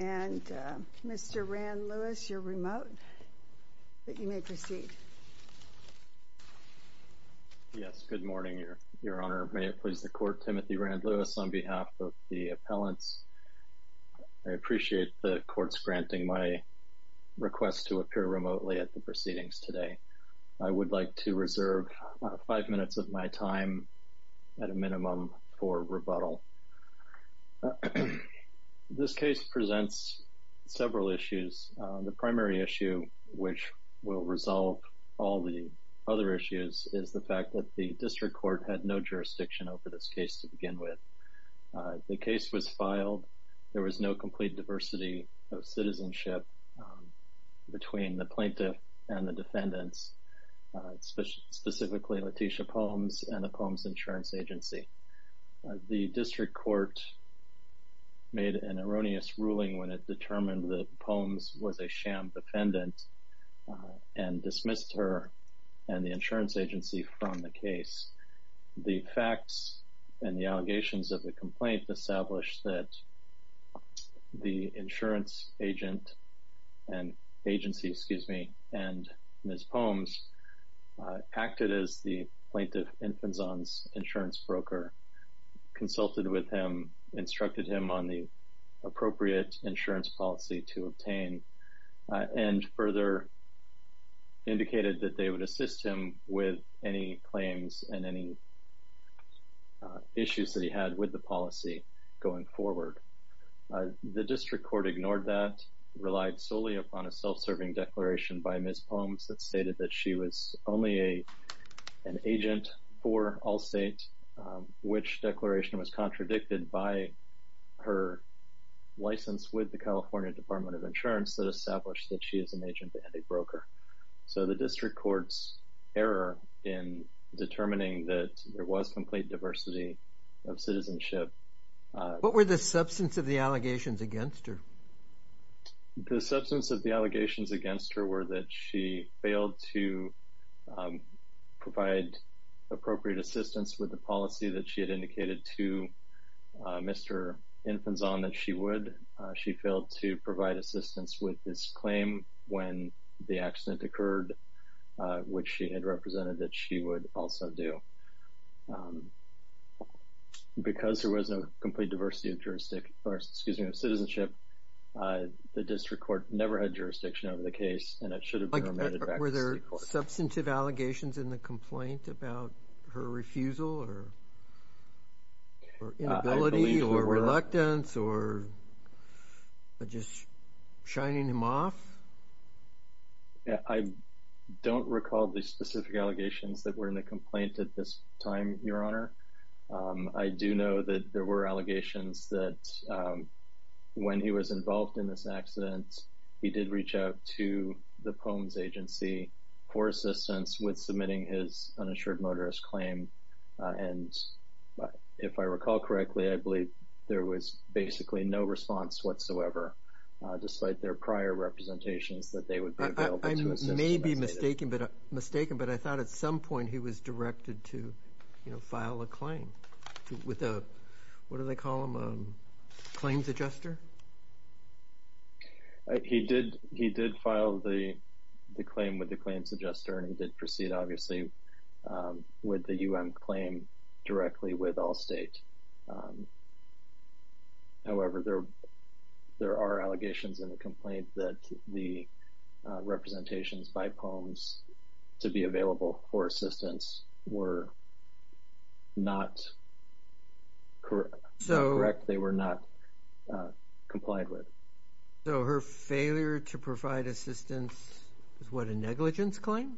And Mr. Rand Lewis, you're remote, but you may proceed. Yes, good morning, Your Honor. May it please the Court, Timothy Rand Lewis, on behalf of the appellants. I appreciate the Court's granting my request to appear remotely at the proceedings today. I would like to reserve five minutes of my time, at a minimum, for rebuttal. This case presents several issues. The primary issue, which will resolve all the other issues, is the fact that the District Court had no jurisdiction over this case to begin with. The case was filed. There was no complete diversity of citizenship between the plaintiff and the defendants, specifically Letitia Palms and the Palms Insurance Agency. The District Court made an erroneous ruling when it determined that Palms was a sham defendant and dismissed her and the insurance agency from the case. The facts and the allegations of the complaint established that the insurance agent and agency, excuse me, and Ms. Palms acted as the plaintiff's insurance broker, consulted with him, instructed him on the appropriate insurance policy to obtain, and further indicated that they would assist him with any claims and any issues that he had with the policy going forward. The District Court ignored that, relied solely upon a self-serving declaration by Ms. Palms that stated that she was only an agent for Allstate, which declaration was contradicted by her license with the California Department of Insurance that established that she is an agent and a broker. So the District Court's error in determining that there was complete diversity of citizenship. What were the substance of the allegations against her? The substance of the allegations against her were that she failed to provide appropriate assistance with the policy that she had indicated to Mr. Infanzon that she would. She failed to provide assistance with this claim when the accident occurred, which she had represented that she would also do. Because there was no complete diversity of jurisdiction, or excuse me, of citizenship, the District Court never had jurisdiction over the case, and it should have been remanded back to the District Court. Were there substantive allegations in the complaint about her refusal or inability or reluctance or just shining him off? I don't recall the specific allegations that were in the complaint at this time, Your Honor. I do know that there were allegations that when he was involved in this accident, he did reach out to the Palms Agency for assistance with submitting his unassured motorist claim. And if I recall correctly, I believe there was basically no response whatsoever, despite their prior representations that they would be available to assist. I may be mistaken, but I thought at some point he was directed to file a claim with a, what do they call them, a claims adjuster? He did file the claim with the claims adjuster, and he did proceed, obviously, with the U.M. claim directly with Allstate. However, there are allegations in the complaint that the representations by Palms to be available for assistance were not correct. They were not complied with. So her failure to provide assistance is what, a negligence claim?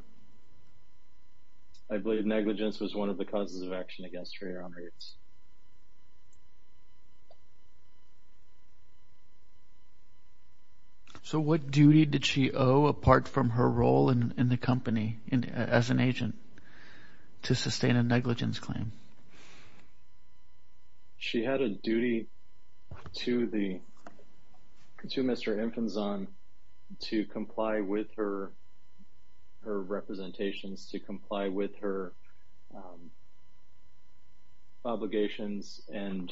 I believe negligence was one of the causes of action against her, Your Honor. So what duty did she owe, apart from her role in the company as an agent, to sustain a negligence claim? She had a duty to Mr. Infanzon to comply with her representations, to comply with her obligations and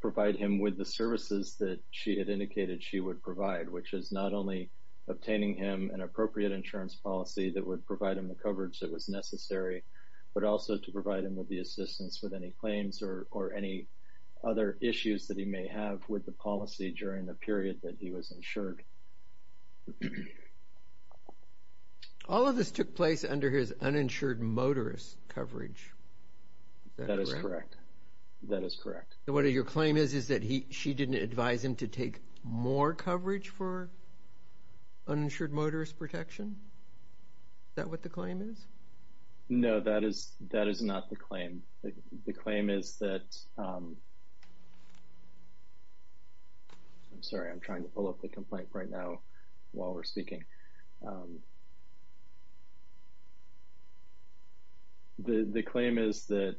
provide him with the services that she had indicated she would provide, which is not only obtaining him an appropriate insurance policy that would provide him the coverage that was necessary, but also to provide him with the assistance with any claims or any other issues that he may have with the policy during the period that he was insured. All of this took place under his uninsured motorist coverage. Is that correct? That is correct. That is correct. So what your claim is, is that she didn't advise him to take more coverage for uninsured motorist protection? Is that what the claim is? No, that is not the claim. The claim is that – I'm sorry. I'm trying to pull up the complaint right now while we're speaking. The claim is that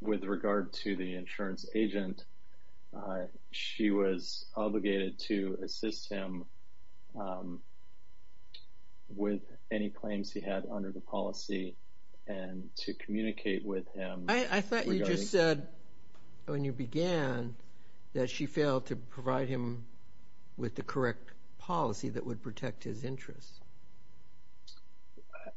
with regard to the insurance agent, she was obligated to assist him with any claims he had under the policy and to communicate with him regarding – with the correct policy that would protect his interests.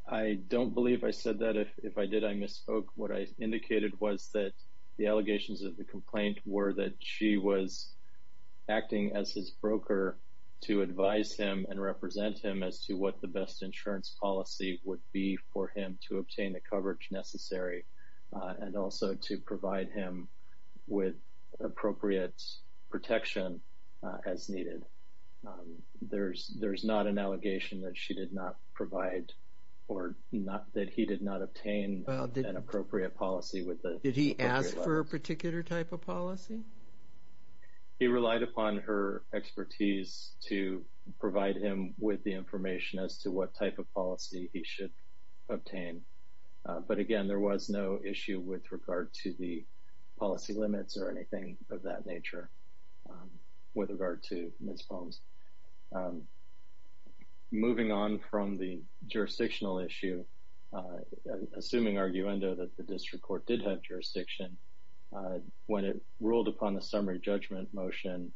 I don't believe I said that. If I did, I misspoke. What I indicated was that the allegations of the complaint were that she was acting as his broker to advise him and represent him as to what the best insurance policy would be for him to obtain the coverage necessary and also to provide him with appropriate protection as needed. There's not an allegation that she did not provide or that he did not obtain an appropriate policy with the appropriate level. Did he ask for a particular type of policy? He relied upon her expertise to provide him with the information as to what type of policy he should obtain. But, again, there was no issue with regard to the policy limits or anything of that nature with regard to misspokes. Moving on from the jurisdictional issue, assuming arguendo that the district court did have jurisdiction, when it ruled upon the summary judgment motion,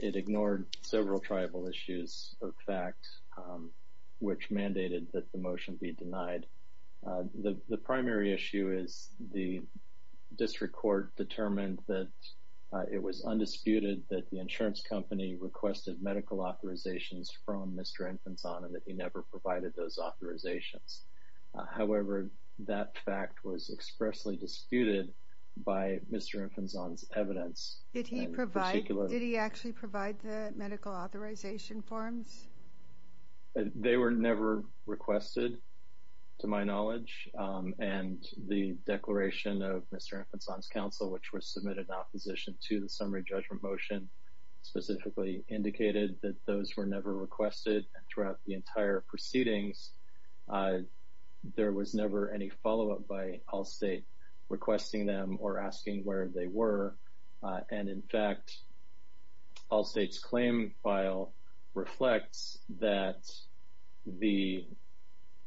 it ignored several tribal issues of fact, which mandated that the motion be denied. The primary issue is the district court determined that it was undisputed that the insurance company requested medical authorizations from Mr. Infanzon and that he never provided those authorizations. However, that fact was expressly disputed by Mr. Infanzon's evidence. Did he actually provide the medical authorization forms? They were never requested, to my knowledge, and the declaration of Mr. Infanzon's counsel, which was submitted in opposition to the summary judgment motion, specifically indicated that those were never requested throughout the entire proceedings. There was never any follow-up by Allstate requesting them or asking where they were and, in fact, Allstate's claim file reflects that the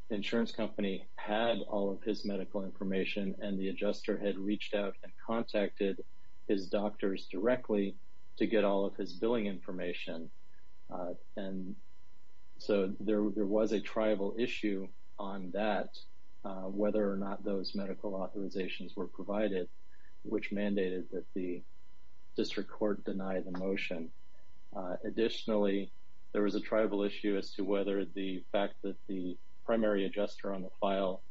insurance company had all of his medical information and the adjuster had reached out and contacted his doctors directly to get all of his billing information. And so there was a tribal issue on that, whether or not those medical authorizations were provided, which mandated that the district court deny the motion. Additionally, there was a tribal issue as to whether the fact that the primary adjuster on the file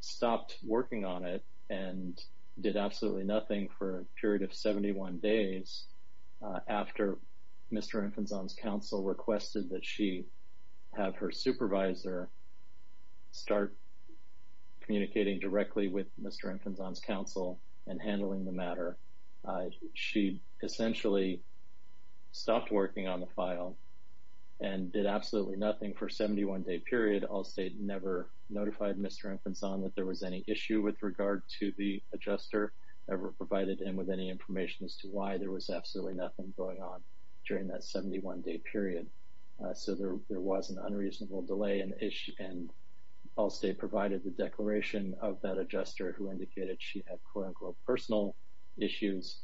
stopped working on it and did absolutely nothing for a period of 71 days after Mr. Infanzon's counsel requested that she have her supervisor start communicating directly with Mr. Infanzon's counsel and handling the matter. She essentially stopped working on the file and did absolutely nothing for a 71-day period. Allstate never notified Mr. Infanzon that there was any issue with regard to the adjuster ever provided and with any information as to why there was absolutely nothing going on during that 71-day period. So there was an unreasonable delay and Allstate provided the declaration of that adjuster who indicated she had quote-unquote personal issues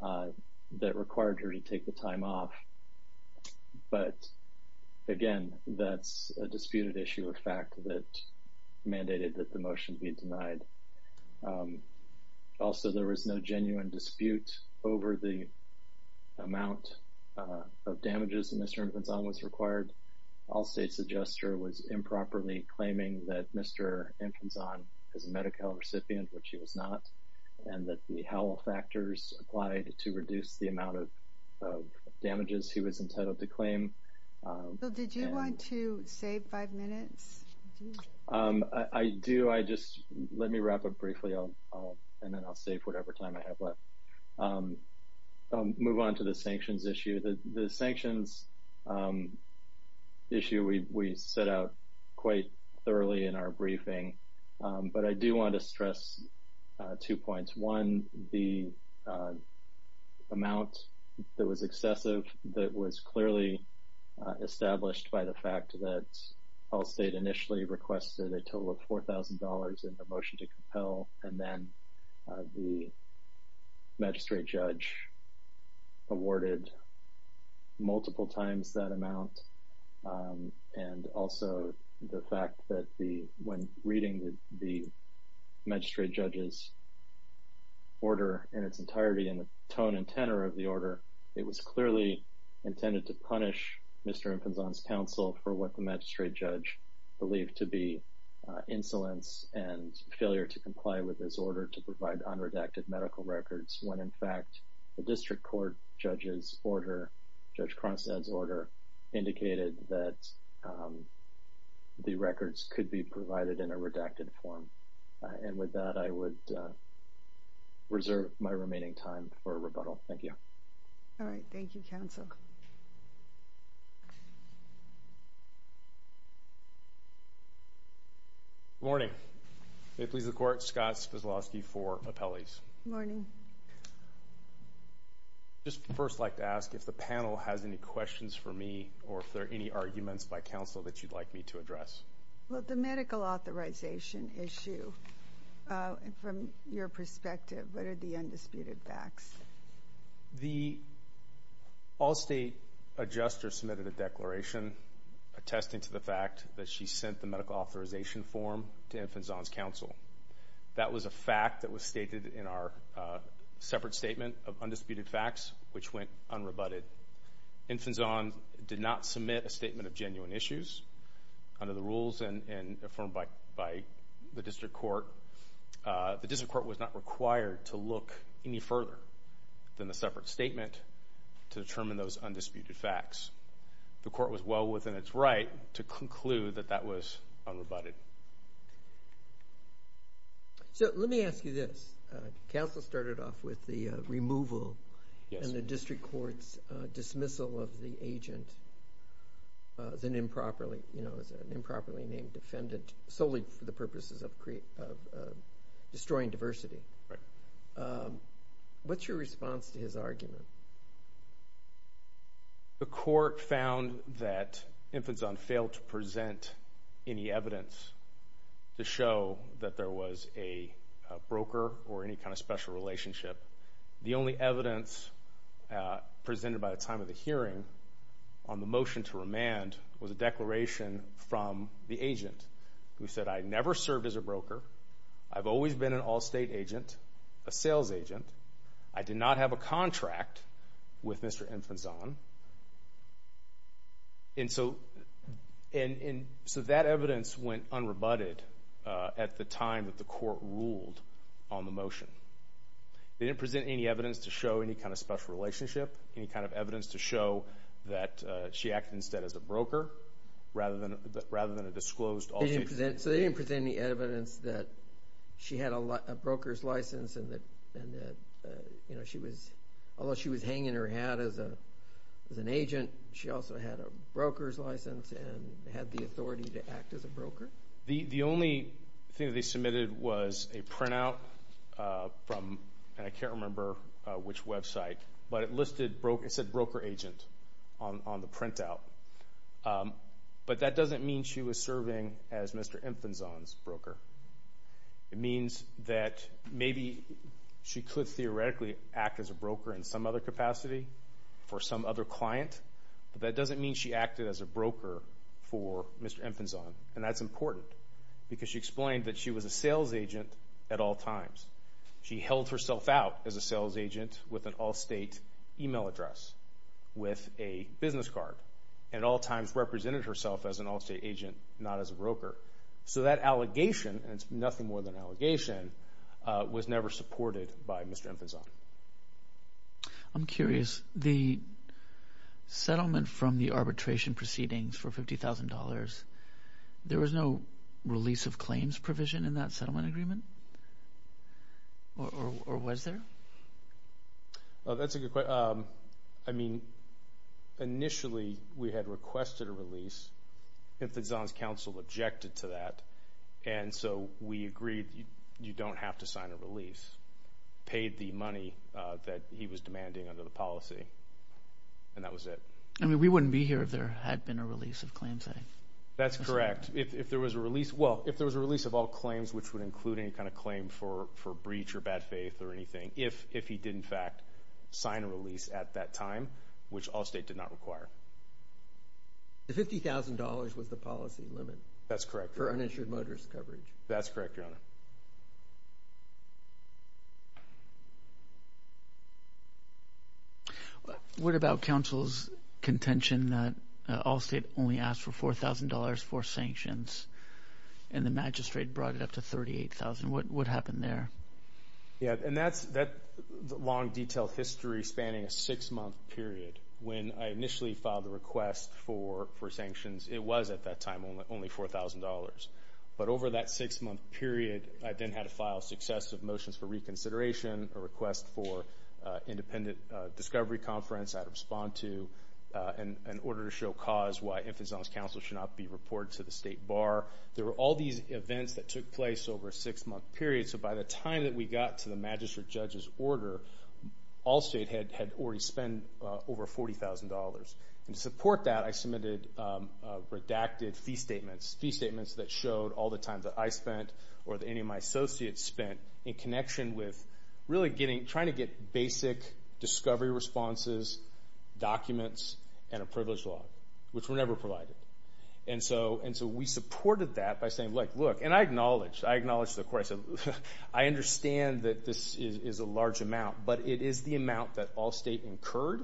that required her to take the time off. But, again, that's a disputed issue of fact that mandated that the motion be denied. Also, there was no genuine dispute over the amount of damages that Mr. Infanzon was required. Allstate's adjuster was improperly claiming that Mr. Infanzon is a Medi-Cal recipient, which he was not, and that the Howell factors applied to reduce the amount of damages he was entitled to claim. Did you want to save five minutes? I do. Let me wrap up briefly and then I'll save whatever time I have left. I'll move on to the sanctions issue. The sanctions issue we set out quite thoroughly in our briefing, but I do want to stress two points. One, the amount that was excessive that was clearly established by the fact that Allstate initially requested a total of $4,000 in the motion to compel, and then the magistrate judge awarded multiple times that amount. Also, the fact that when reading the magistrate judge's order in its entirety and the tone and tenor of the order, it was clearly intended to punish Mr. Infanzon's counsel for what the magistrate judge believed to be insolence and failure to comply with his order to provide unredacted medical records, when in fact the district court judge's order, Judge Cronstadt's order, indicated that the records could be provided in a redacted form. And with that, I would reserve my remaining time for rebuttal. Thank you. All right. Thank you, counsel. Good morning. May it please the Court, Scott Spaslovsky for appellees. Good morning. I'd just first like to ask if the panel has any questions for me or if there are any arguments by counsel that you'd like me to address. The medical authorization issue, from your perspective, what are the undisputed facts? The Allstate adjuster submitted a declaration attesting to the fact that she sent the medical authorization form to Infanzon's counsel. That was a fact that was stated in our separate statement of undisputed facts, which went unrebutted. Infanzon did not submit a statement of genuine issues. Under the rules and affirmed by the district court, the district court was not required to look any further than the separate statement to determine those undisputed facts. The court was well within its right to conclude that that was unrebutted. Let me ask you this. Counsel started off with the removal and the district court's dismissal of the agent as an improperly named defendant solely for the purposes of destroying diversity. What's your response to his argument? The court found that Infanzon failed to present any evidence to show that there was a broker or any kind of special relationship. The only evidence presented by the time of the hearing on the motion to remand was a declaration from the agent who said, I never served as a broker. I've always been an Allstate agent, a sales agent. I did not have a contract with Mr. Infanzon. And so that evidence went unrebutted at the time that the court ruled on the motion. They didn't present any evidence to show any kind of special relationship, any kind of evidence to show that she acted instead as a broker rather than a disclosed Allstate agent. So they didn't present any evidence that she had a broker's license and that she was hanging her hat as an agent. She also had a broker's license and had the authority to act as a broker? The only thing that they submitted was a printout from, and I can't remember which website, but it said broker agent on the printout. But that doesn't mean she was serving as Mr. Infanzon's broker. It means that maybe she could theoretically act as a broker in some other capacity for some other client, but that doesn't mean she acted as a broker for Mr. Infanzon, and that's important because she explained that she was a sales agent at all times. She held herself out as a sales agent with an Allstate email address, with a business card, and at all times represented herself as an Allstate agent, not as a broker. So that allegation, and it's nothing more than an allegation, was never supported by Mr. Infanzon. I'm curious. The settlement from the arbitration proceedings for $50,000, there was no release of claims provision in that settlement agreement, or was there? That's a good question. Initially, we had requested a release. Infanzon's counsel objected to that, and so we agreed you don't have to sign a release, paid the money that he was demanding under the policy, and that was it. I mean, we wouldn't be here if there had been a release of claims. That's correct. If there was a release, well, if there was a release of all claims which would include any kind of claim for breach or bad faith or anything, if he did, in fact, sign a release at that time, which Allstate did not require. The $50,000 was the policy limit. That's correct. For uninsured motorist coverage. That's correct, Your Honor. Thank you. What about counsel's contention that Allstate only asked for $4,000 for sanctions and the magistrate brought it up to $38,000? What happened there? Yeah, and that's a long, detailed history spanning a six-month period. When I initially filed the request for sanctions, it was at that time only $4,000. But over that six-month period, I then had to file successive motions for reconsideration, a request for independent discovery conference I had to respond to, and an order to show cause why infants on this council should not be reported to the state bar. There were all these events that took place over a six-month period, so by the time that we got to the magistrate judge's order, Allstate had already spent over $40,000. To support that, I submitted redacted fee statements, fee statements that showed all the time that I spent or that any of my associates spent in connection with really trying to get basic discovery responses, documents, and a privilege law, which were never provided. And so we supported that by saying, look, look, and I acknowledged the question. I understand that this is a large amount, but it is the amount that Allstate incurred,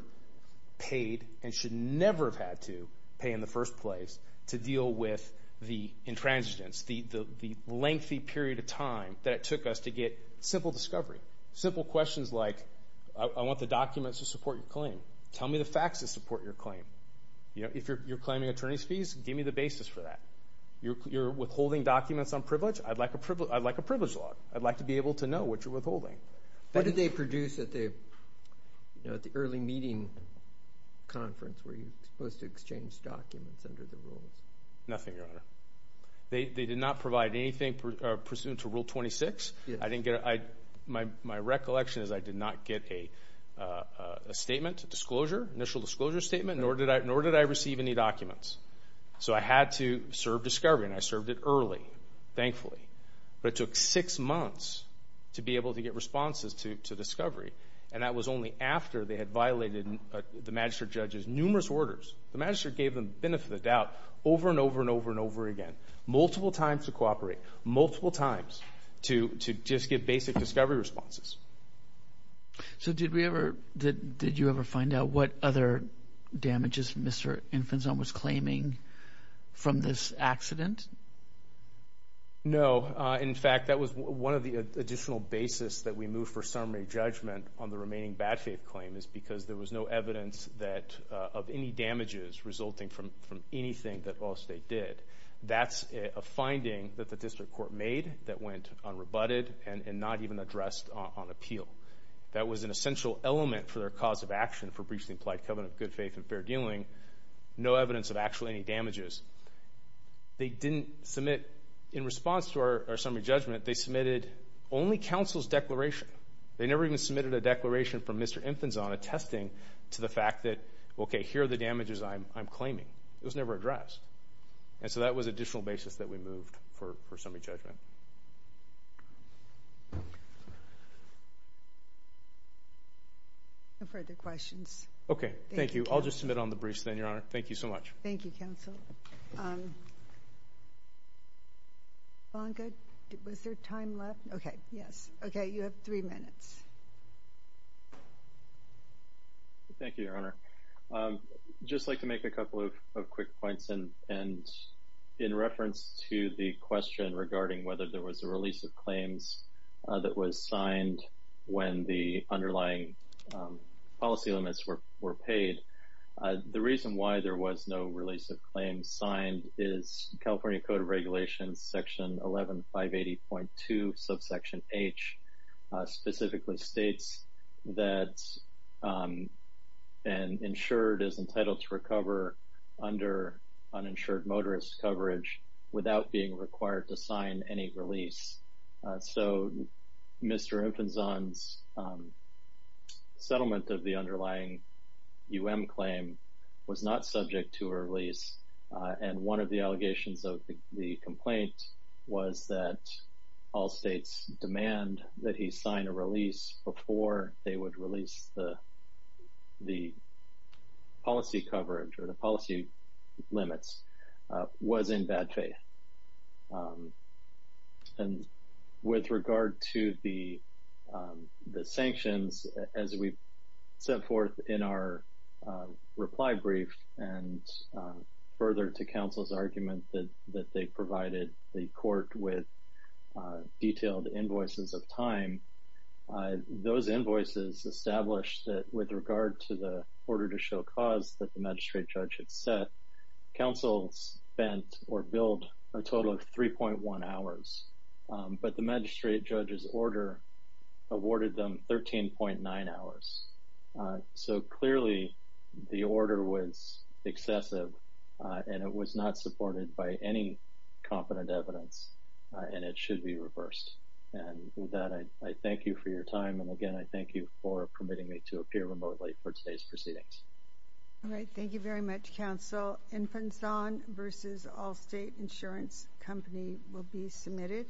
paid, and should never have had to pay in the first place to deal with the intransigence, the lengthy period of time that it took us to get simple discovery, simple questions like, I want the documents to support your claim. Tell me the facts that support your claim. If you're claiming attorney's fees, give me the basis for that. You're withholding documents on privilege? I'd like a privilege law. I'd like to be able to know what you're withholding. What did they produce at the early meeting conference where you're supposed to exchange documents under the rules? Nothing, Your Honor. They did not provide anything pursuant to Rule 26. My recollection is I did not get a statement, disclosure, initial disclosure statement, nor did I receive any documents. So I had to serve discovery, and I served it early, thankfully. But it took six months to be able to get responses to discovery, and that was only after they had violated the magistrate judge's numerous orders. The magistrate gave them the benefit of the doubt over and over and over and over again, multiple times to cooperate, multiple times to just give basic discovery responses. So did you ever find out what other damages Mr. Infanzon was claiming from this accident? No. In fact, that was one of the additional basis that we moved for summary judgment on the remaining bad faith claim is because there was no evidence of any damages resulting from anything that Allstate did. That's a finding that the district court made that went unrebutted and not even addressed on appeal. That was an essential element for their cause of action for breaching the implied covenant of good faith and fair dealing, no evidence of actually any damages. They didn't submit in response to our summary judgment. They submitted only counsel's declaration. They never even submitted a declaration from Mr. Infanzon attesting to the fact that, okay, here are the damages I'm claiming. It was never addressed. And so that was an additional basis that we moved for summary judgment. No further questions. Okay, thank you. I'll just submit on the briefs then, Your Honor. Thank you so much. Thank you, counsel. Ivanka, was there time left? Okay, yes. Okay, you have three minutes. Thank you, Your Honor. I'd just like to make a couple of quick points. And in reference to the question regarding whether there was a release of claims that was signed when the underlying policy limits were paid, the reason why there was no release of claims signed is California Code of Regulations, Section 11580.2, subsection H, specifically states that an insured is entitled to recover under uninsured motorist coverage without being required to sign any release. So Mr. Infanzon's settlement of the underlying U.M. claim was not subject to a release. And one of the allegations of the complaint was that all states demand that he sign a release before they would release the policy coverage or the policy limits was in bad faith. And with regard to the sanctions, as we set forth in our reply brief and further to counsel's argument that they provided the court with detailed invoices of time, those invoices established that with regard to the order to show cause that the magistrate judge had set, counsel spent or billed a total of 3.1 hours, but the magistrate judge's order awarded them 13.9 hours. So clearly the order was excessive and it was not supported by any competent evidence and it should be reversed. And with that, I thank you for your time. And, again, I thank you for permitting me to appear remotely for today's proceedings. Thank you very much. All right, thank you very much, counsel. Infanzon v. Allstate Insurance Company will be submitted.